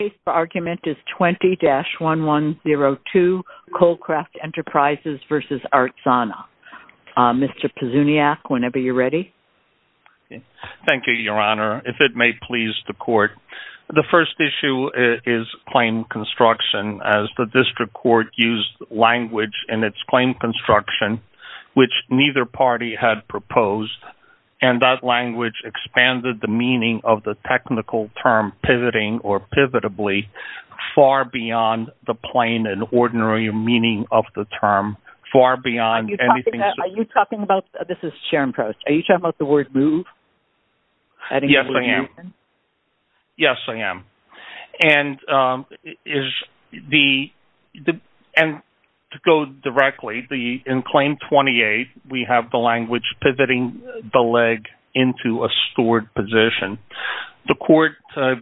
The case for argument is 20-1102, Colcraft Enterprises v. Artsana. Mr. Pizzuniac, whenever you're ready. Thank you, Your Honor. If it may please the Court, the first issue is claim construction, as the District Court used language in its claim construction which neither party had proposed, and that language expanded the meaning of the technical term, pivoting, or pivotably, far beyond the plain and ordinary meaning of the term, far beyond anything else. Are you talking about, this is Sharon Proust, are you talking about the word move? Yes, I am. Yes, I am. And is the, and to go directly, in claim 28, we have the language pivoting the leg into a stored position. The Court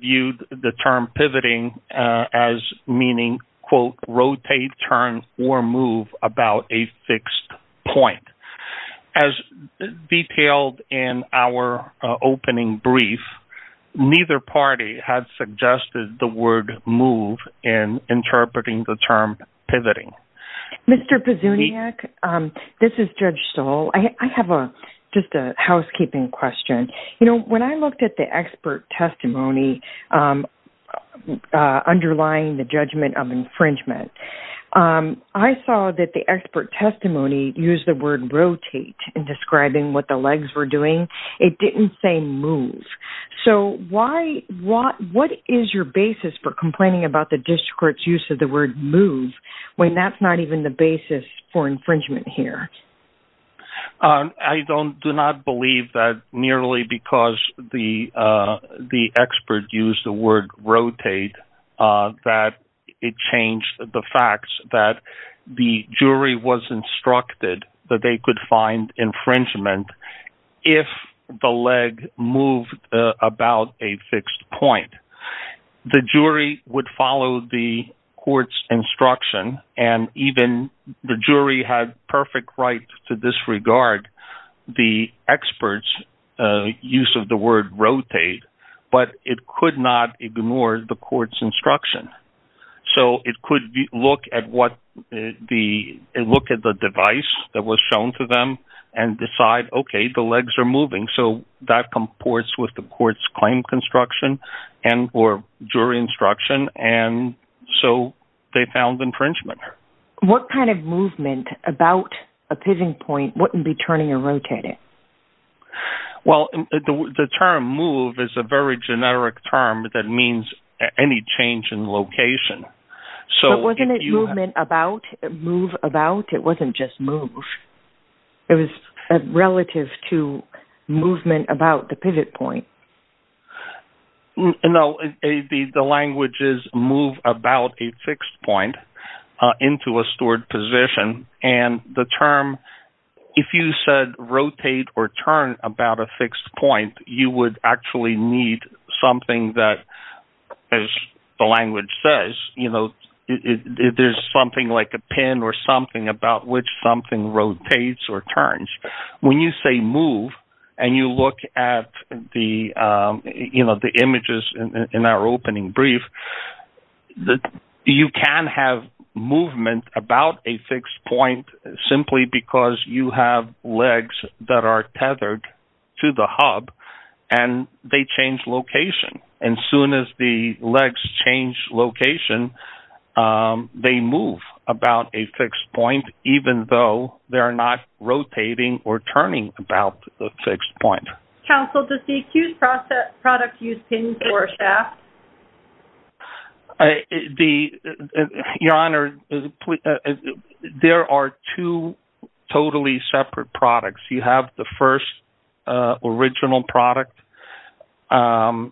viewed the term pivoting as meaning, quote, rotate, turn, or move about a fixed point. As detailed in our opening brief, neither party had suggested the word move in interpreting the term pivoting. Mr. Pizzuniac, this is Judge Stoll. I have a, just a housekeeping question. You know, when I looked at the expert testimony underlying the judgment of infringement, I saw that the expert testimony used the word rotate in describing what the legs were doing. It didn't say move. So why, what is your basis for complaining about the District Court's use of the word move, when that's not even the basis for infringement here? I don't, do not believe that nearly because the expert used the word rotate, that it changed the facts, that the jury was instructed that they could find infringement if the leg moved about a fixed point. The jury would follow the Court's instruction, and even the jury had perfect right to disregard the expert's use of the word rotate, but it could not ignore the Court's instruction. So it could look at what the, look at the device that was shown to them and decide, okay, the legs are moving. So that comports with the Court's claim construction and, or jury instruction. And so they found infringement. What kind of movement about a pivoting point wouldn't be turning or rotating? Well the term move is a very generic term that means any change in location. So wasn't it movement about, move about? It wasn't just move. It was relative to movement about the pivot point. No, the language is move about a fixed point into a stored position. And the term, if you said rotate or turn about a fixed point, you would actually need something that, as the language says, you know, there's something like a pin or something about which something rotates or turns. When you say move and you look at the, you know, the images in our opening brief, you can have movement about a fixed point simply because you have legs that are tethered to the hub and they change location. And as soon as the legs change location, they move about a fixed point, even though they are not rotating or turning about the fixed point. Counsel, does the accused product use pins or shafts? The, Your Honor, there are two totally separate products. You have the first original product and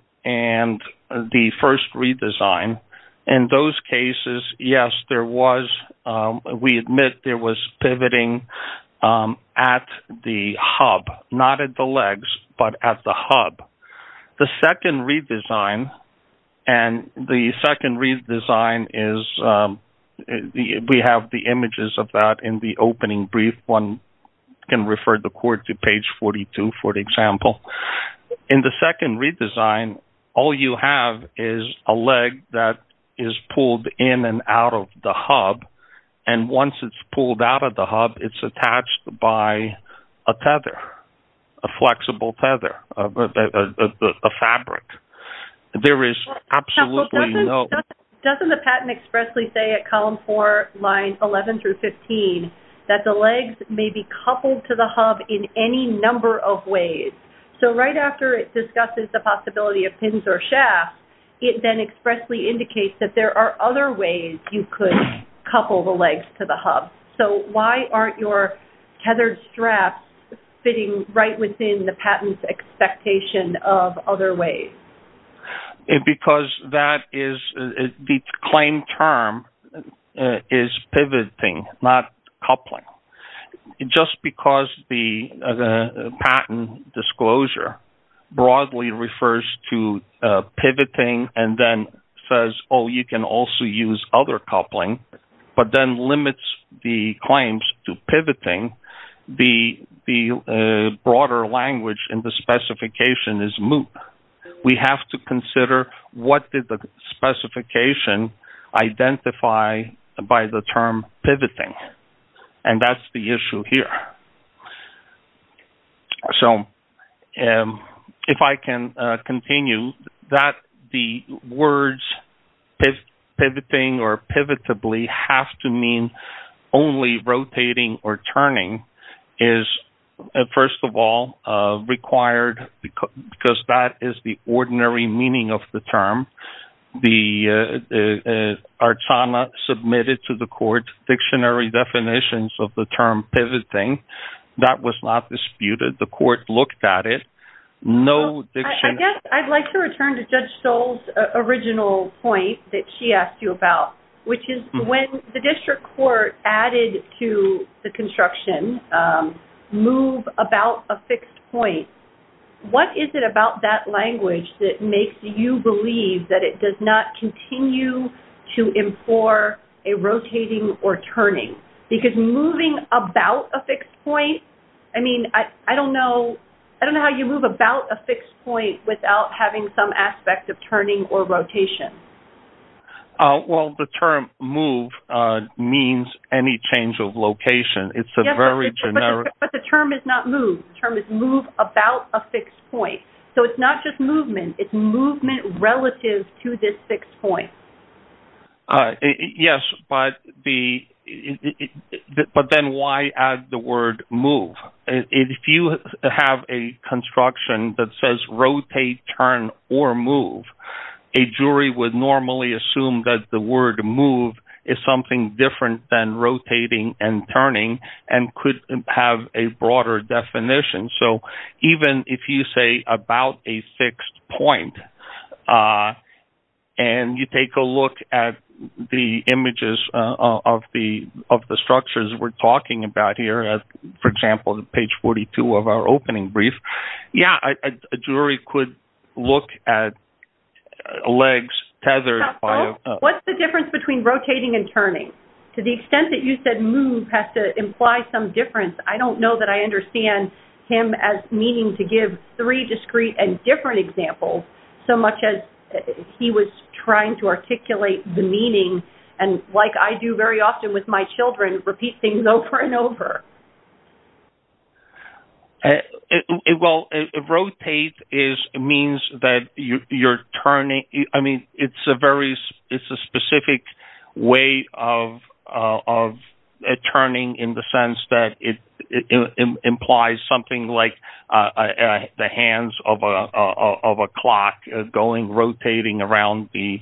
the first redesign. In those cases, yes, there was, we admit there was pivoting at the hub, not at the legs, but at the hub. The second redesign, and the second redesign is, we have the images of that in the opening brief. One can refer the court to page 42, for example. In the second redesign, all you have is a leg that is pulled in and out of the hub, and once it's pulled out of the hub, it's attached by a tether, a flexible tether, a fabric. There is absolutely no… The legs may be coupled to the hub in any number of ways. So right after it discusses the possibility of pins or shafts, it then expressly indicates that there are other ways you could couple the legs to the hub. So why aren't your tethered straps fitting right within the patent's expectation of other ways? Because that is, the claim term is pivoting, not coupling. Just because the patent disclosure broadly refers to pivoting and then says, oh, you can also use other coupling, but then limits the claims to pivoting, the broader language in the specification is moot. We have to consider what did the specification identify by the term pivoting, and that's the issue here. So if I can continue, that the words pivoting or pivotably have to mean only rotating or that is the ordinary meaning of the term. The Artana submitted to the court dictionary definitions of the term pivoting. That was not disputed. The court looked at it. No dictionary… I guess I'd like to return to Judge Stoll's original point that she asked you about, which is when the district court added to the construction, move about a fixed point, what is it about that language that makes you believe that it does not continue to implore a rotating or turning? Because moving about a fixed point, I mean, I don't know how you move about a fixed point without having some aspect of turning or rotation. Well, the term move means any change of location. It's a very generic… But the term is not move. The term is move about a fixed point. So it's not just movement. It's movement relative to this fixed point. Yes, but then why add the word move? If you have a construction that says rotate, turn, or move, a jury would normally assume that the word move is something different than rotating and turning and could have a broader definition. So even if you say about a fixed point, and you take a look at the images of the structures we're talking about here, for example, page 42 of our opening brief, yeah, a jury could look at legs tethered by a… So what's the difference between rotating and turning? To the extent that you said move has to imply some difference, I don't know that I understand him as meaning to give three discrete and different examples so much as he was trying to articulate the meaning, and like I do very often with my children, repeat things over and over. Well, rotate means that you're turning. It's a specific way of turning in the sense that it implies something like the hands of a clock going rotating around the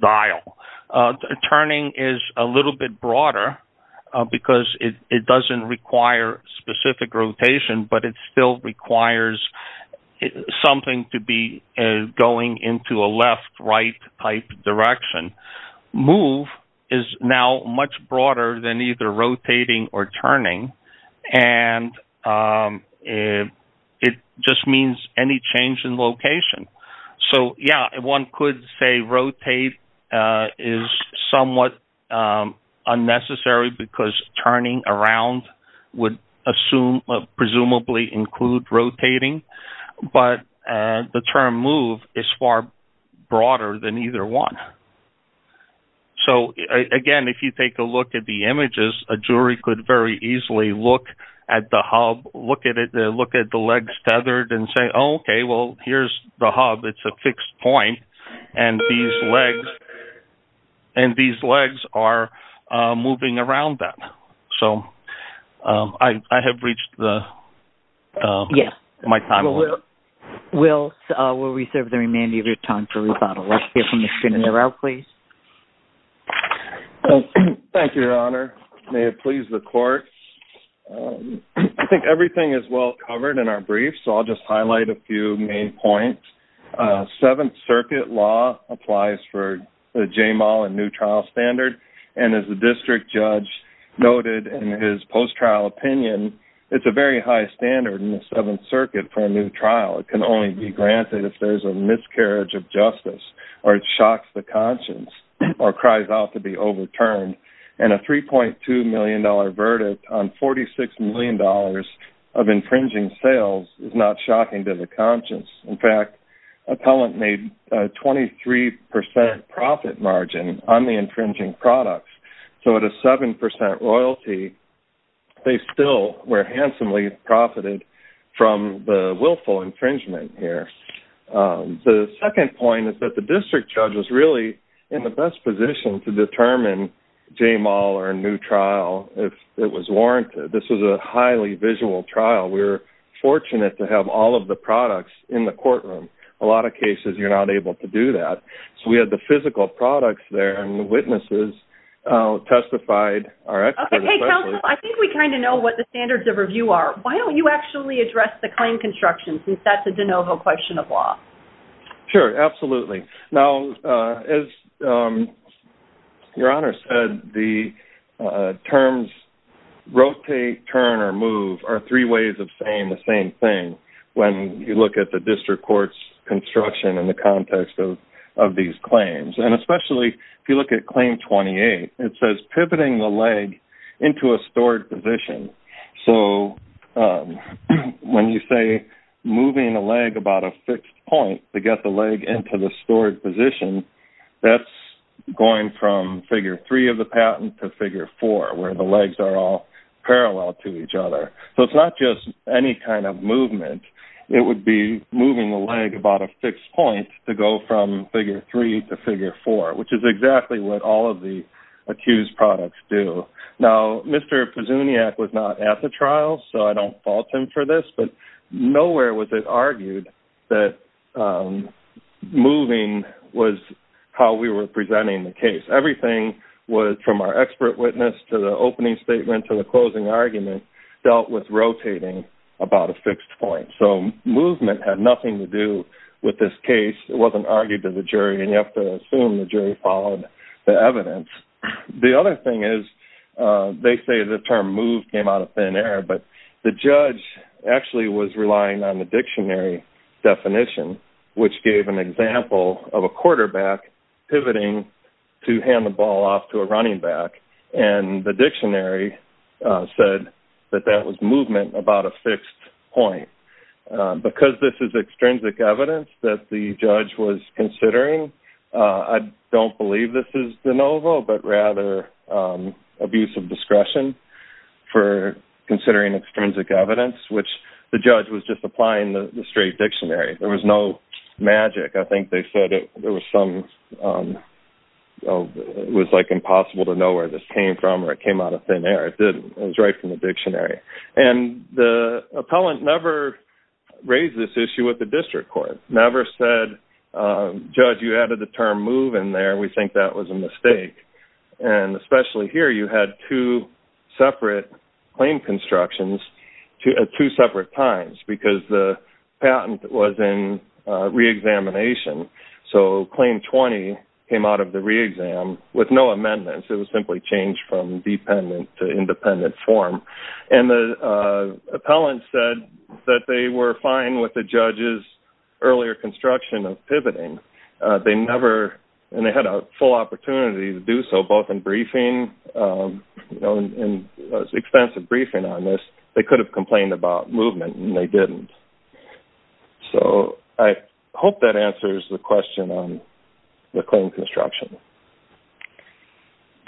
dial. Turning is a little bit broader because it doesn't require specific rotation, but it still requires something to be going into a left-right type direction. Move is now much broader than either rotating or turning, and it just means any change in location. So yeah, one could say rotate is somewhat unnecessary because turning around would assume, presumably, include rotating, but the term move is far broader than either one. So again, if you take a look at the images, a jury could very easily look at the hub, look at the legs tethered and say, okay, well, here's the hub. It's a fixed point, and these legs are moving around that. So I have reached my time limit. Yes. We'll reserve the remainder of your time for rebuttal. Let's hear from Mr. Narao, please. Thank you, Your Honor. May it please the court. I think everything is well covered in our brief, so I'll just highlight a few main points. Seventh Circuit law applies for the J-Mall and new trial standard, and as the district judge noted in his post-trial opinion, it's a very high standard in the Seventh Circuit for a new trial. It can only be granted if there's a miscarriage of justice or it shocks the conscience or cries out to be overturned. And a $3.2 million verdict on $46 million of infringing sales is not shocking to the conscience. In fact, appellant made a 23% profit margin on the infringing products, so at a 7% royalty, they still were handsomely profited from the willful infringement here. The second point is that the district judge was really in the best position to determine J-Mall or a new trial if it was warranted. This was a highly visual trial. We were fortunate to have all of the products in the courtroom. A lot of cases, you're not able to do that. So we had the physical products there, and the witnesses testified our expert assessment. Okay. Hey, counsel, I think we kind of know what the standards of review are. Why don't you actually address the claim construction since that's a de novo question of law? Sure. Absolutely. Now, as your honor said, the terms rotate, turn, or move are three ways of saying the same thing when you look at the district court's construction in the context of these claims. And especially if you look at claim 28, it says pivoting the leg into a stored position. So when you say moving a leg about a fixed point to get the leg into the stored position, that's going from figure three of the patent to figure four, where the legs are all parallel to each other. So it's not just any kind of movement. It would be moving the leg about a fixed point to go from figure three to figure four, which is exactly what all of the accused products do. Now, Mr. Pezzuniac was not at the trial, so I don't fault him for this, but nowhere was it argued that moving was how we were presenting the case. Everything was from our expert witness to the opening statement to the closing argument dealt with rotating about a fixed point. So movement had nothing to do with this case. It wasn't argued to the jury, and you have to assume the jury followed the evidence. The other thing is, they say the term move came out of thin air, but the judge actually was relying on the dictionary definition, which gave an example of a quarterback pivoting to hand the ball off to a running back, and the dictionary said that that was movement about a fixed point. Because this is extrinsic evidence that the judge was considering, I don't believe this is de novo, but rather abuse of discretion for considering extrinsic evidence, which the judge was just applying the straight dictionary. There was no magic. I think they said it was like impossible to know where this came from or it came out of thin air. It was right from the dictionary. The appellant never raised this issue with the district court, never said, judge, you added the term move in there. We think that was a mistake. And especially here, you had two separate claim constructions at two separate times because the patent was in re-examination, so claim 20 came out of the re-exam with no amendments. It was simply changed from dependent to independent form. And the appellant said that they were fine with the judge's earlier construction of pivoting. They never, and they had a full opportunity to do so both in briefing, you know, in extensive briefing on this, they could have complained about movement and they didn't. So I hope that answers the question on the claim construction.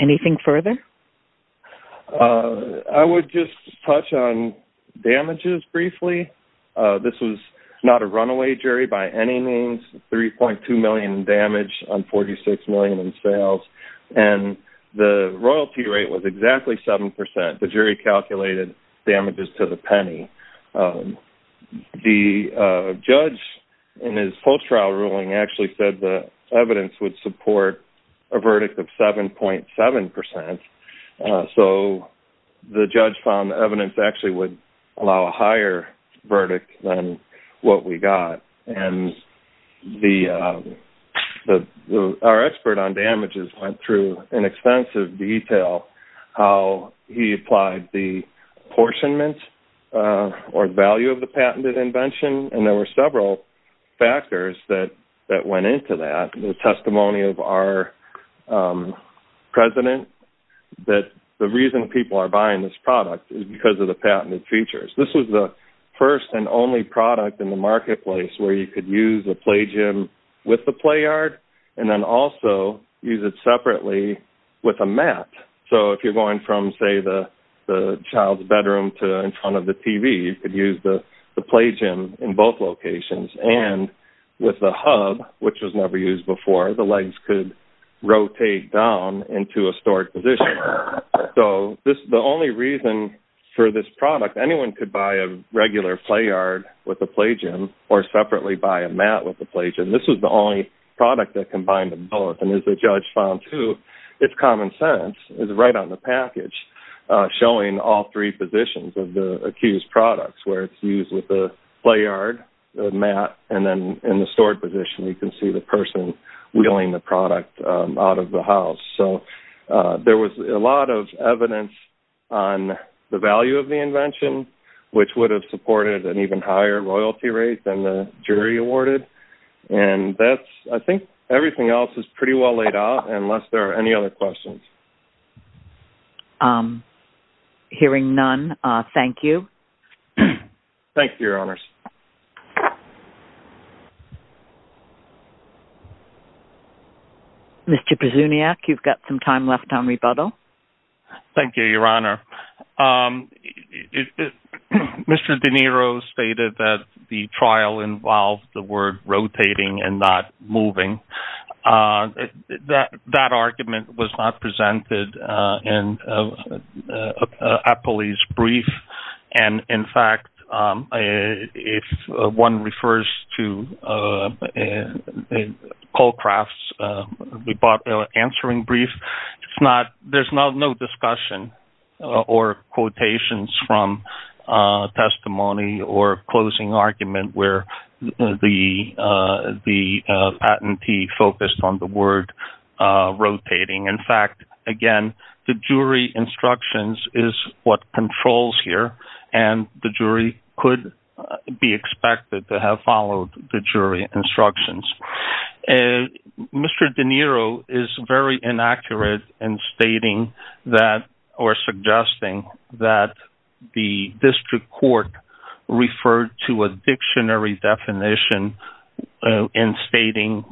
Anything further? I would just touch on damages briefly. This was not a runaway jury by any means, 3.2 million damage on 46 million in sales. And the royalty rate was exactly 7%. The jury calculated damages to the penny. The judge in his post-trial ruling actually said the evidence would support a verdict of 7.7%. So the judge found the evidence actually would allow a higher verdict than what we got. And our expert on damages went through in extensive detail how he applied the apportionment or value of the patented invention. And there were several factors that went into that. The testimony of our president that the reason people are buying this product is because of the patented features. This was the first and only product in the marketplace where you could use a play gym with the play yard and then also use it separately with a mat. So if you're going from, say, the child's bedroom to in front of the TV, you could use the play gym in both locations. And with the hub, which was never used before, the legs could rotate down into a stored position. So the only reason for this product, anyone could buy a regular play yard with a play gym or separately buy a mat with a play gym. This was the only product that combined them both. And as the judge found too, it's common sense, it's right on the package, showing all three positions of the accused products, where it's used with the play yard, the mat, and then in the stored position, you can see the person wheeling the product out of the house. So there was a lot of evidence on the value of the invention, which would have supported an even higher royalty rate than the jury awarded. And that's, I think, everything else is pretty well laid out, unless there are any other questions. Hearing none. Thank you. Thank you, Your Honors. Mr. Prasuniak, you've got some time left on rebuttal. Thank you, Your Honor. Mr. De Niro stated that the trial involved the word rotating and not moving. That argument was not presented in a police brief. And in fact, if one refers to Colcraft's answering brief, there's no discussion or quotations from testimony or closing argument where the patentee focused on the word rotating. In fact, again, the jury instructions is what controls here, and the jury could be expected to have followed the jury instructions. Mr. De Niro is very inaccurate in stating that or suggesting that the district court referred to a dictionary definition in stating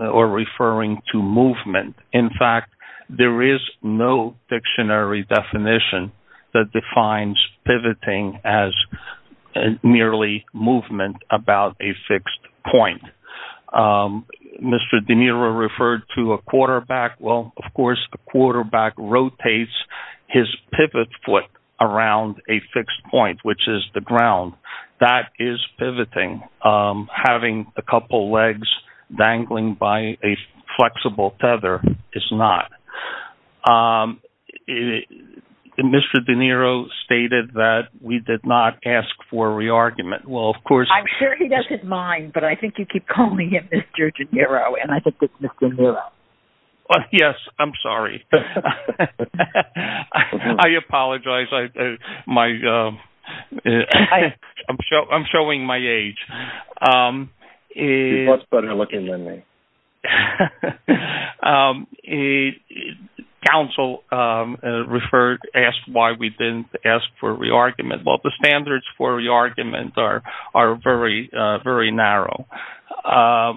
or referring to movement. In fact, there is no dictionary definition that defines pivoting as merely movement about a fixed point. Mr. De Niro referred to a quarterback. Well, of course, a quarterback rotates his pivot foot around a fixed point, which is the ground. That is pivoting. Having a couple legs dangling by a flexible tether is not. Mr. De Niro stated that we did not ask for a re-argument. I'm sure he doesn't mind, but I think you keep calling him Mr. De Niro, and I think it's Mr. Niro. Yes, I'm sorry. I apologize. I'm showing my age. He's much better looking than me. Counsel asked why we didn't ask for a re-argument. I'm sorry. I'm sorry. I'm sorry. I'm sorry. I'm sorry. I'm sorry. I'm sorry. I'm sorry. The reasons for that are very narrow.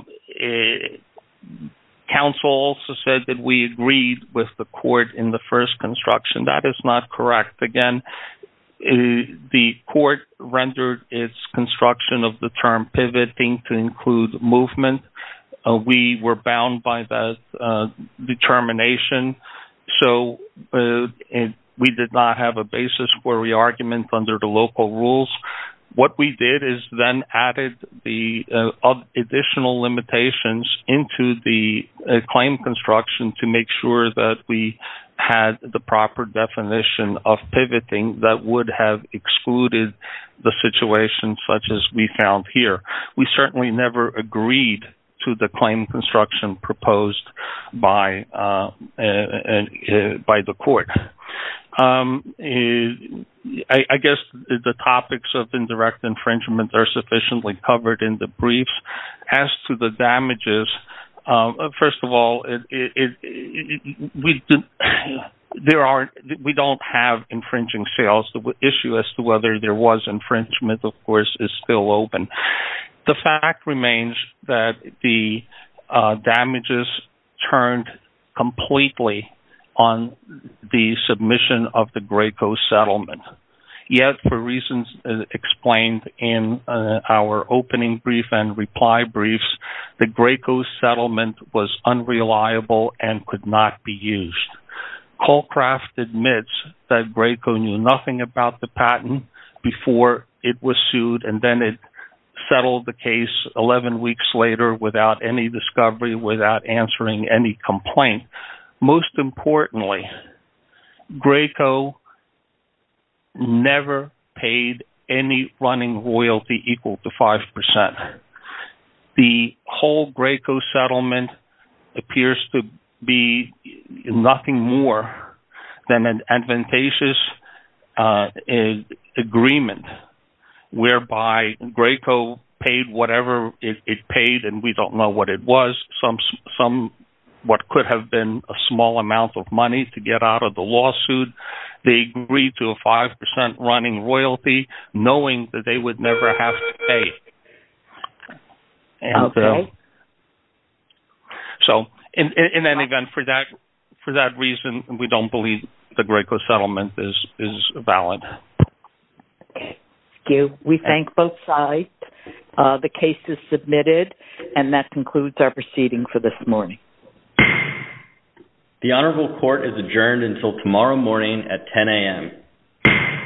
Counsel also said that we agreed with the court in the first construction. That is not correct. Again, the court rendered its construction of the term pivoting to include movement. We were bound by that determination, so we did not have a basis for re-argument under the local rules. What we did is then added the additional limitations into the claim construction to make sure that we had the proper definition of pivoting that would have excluded the situation such as we found here. We certainly never agreed to the claim construction proposed by the court. I guess the topics of indirect infringement are sufficiently covered in the brief. As to the damages, first of all, we don't have infringing sales. The issue as to whether there was infringement, of course, is still open. The fact remains that the damages turned completely on the submission of the Graco settlement. Yet, for reasons explained in our opening brief and reply briefs, the Graco settlement was unreliable and could not be used. Colcraft admits that Graco knew nothing about the patent before it was sued and then it settled the case 11 weeks later without any discovery, without answering any complaint. Most importantly, Graco never paid any running royalty equal to 5%. The whole Graco settlement appears to be nothing more than an advantageous agreement whereby Graco paid whatever it paid and we don't know what it was, what could have been a small amount of money to get out of the lawsuit. They agreed to a 5% running royalty knowing that they would never have to pay. So, in any event, for that reason, we don't believe the Graco settlement is valid. We thank both sides. The case is submitted and that concludes our proceeding for this morning. The Honorable Court is adjourned until tomorrow morning at 10 a.m.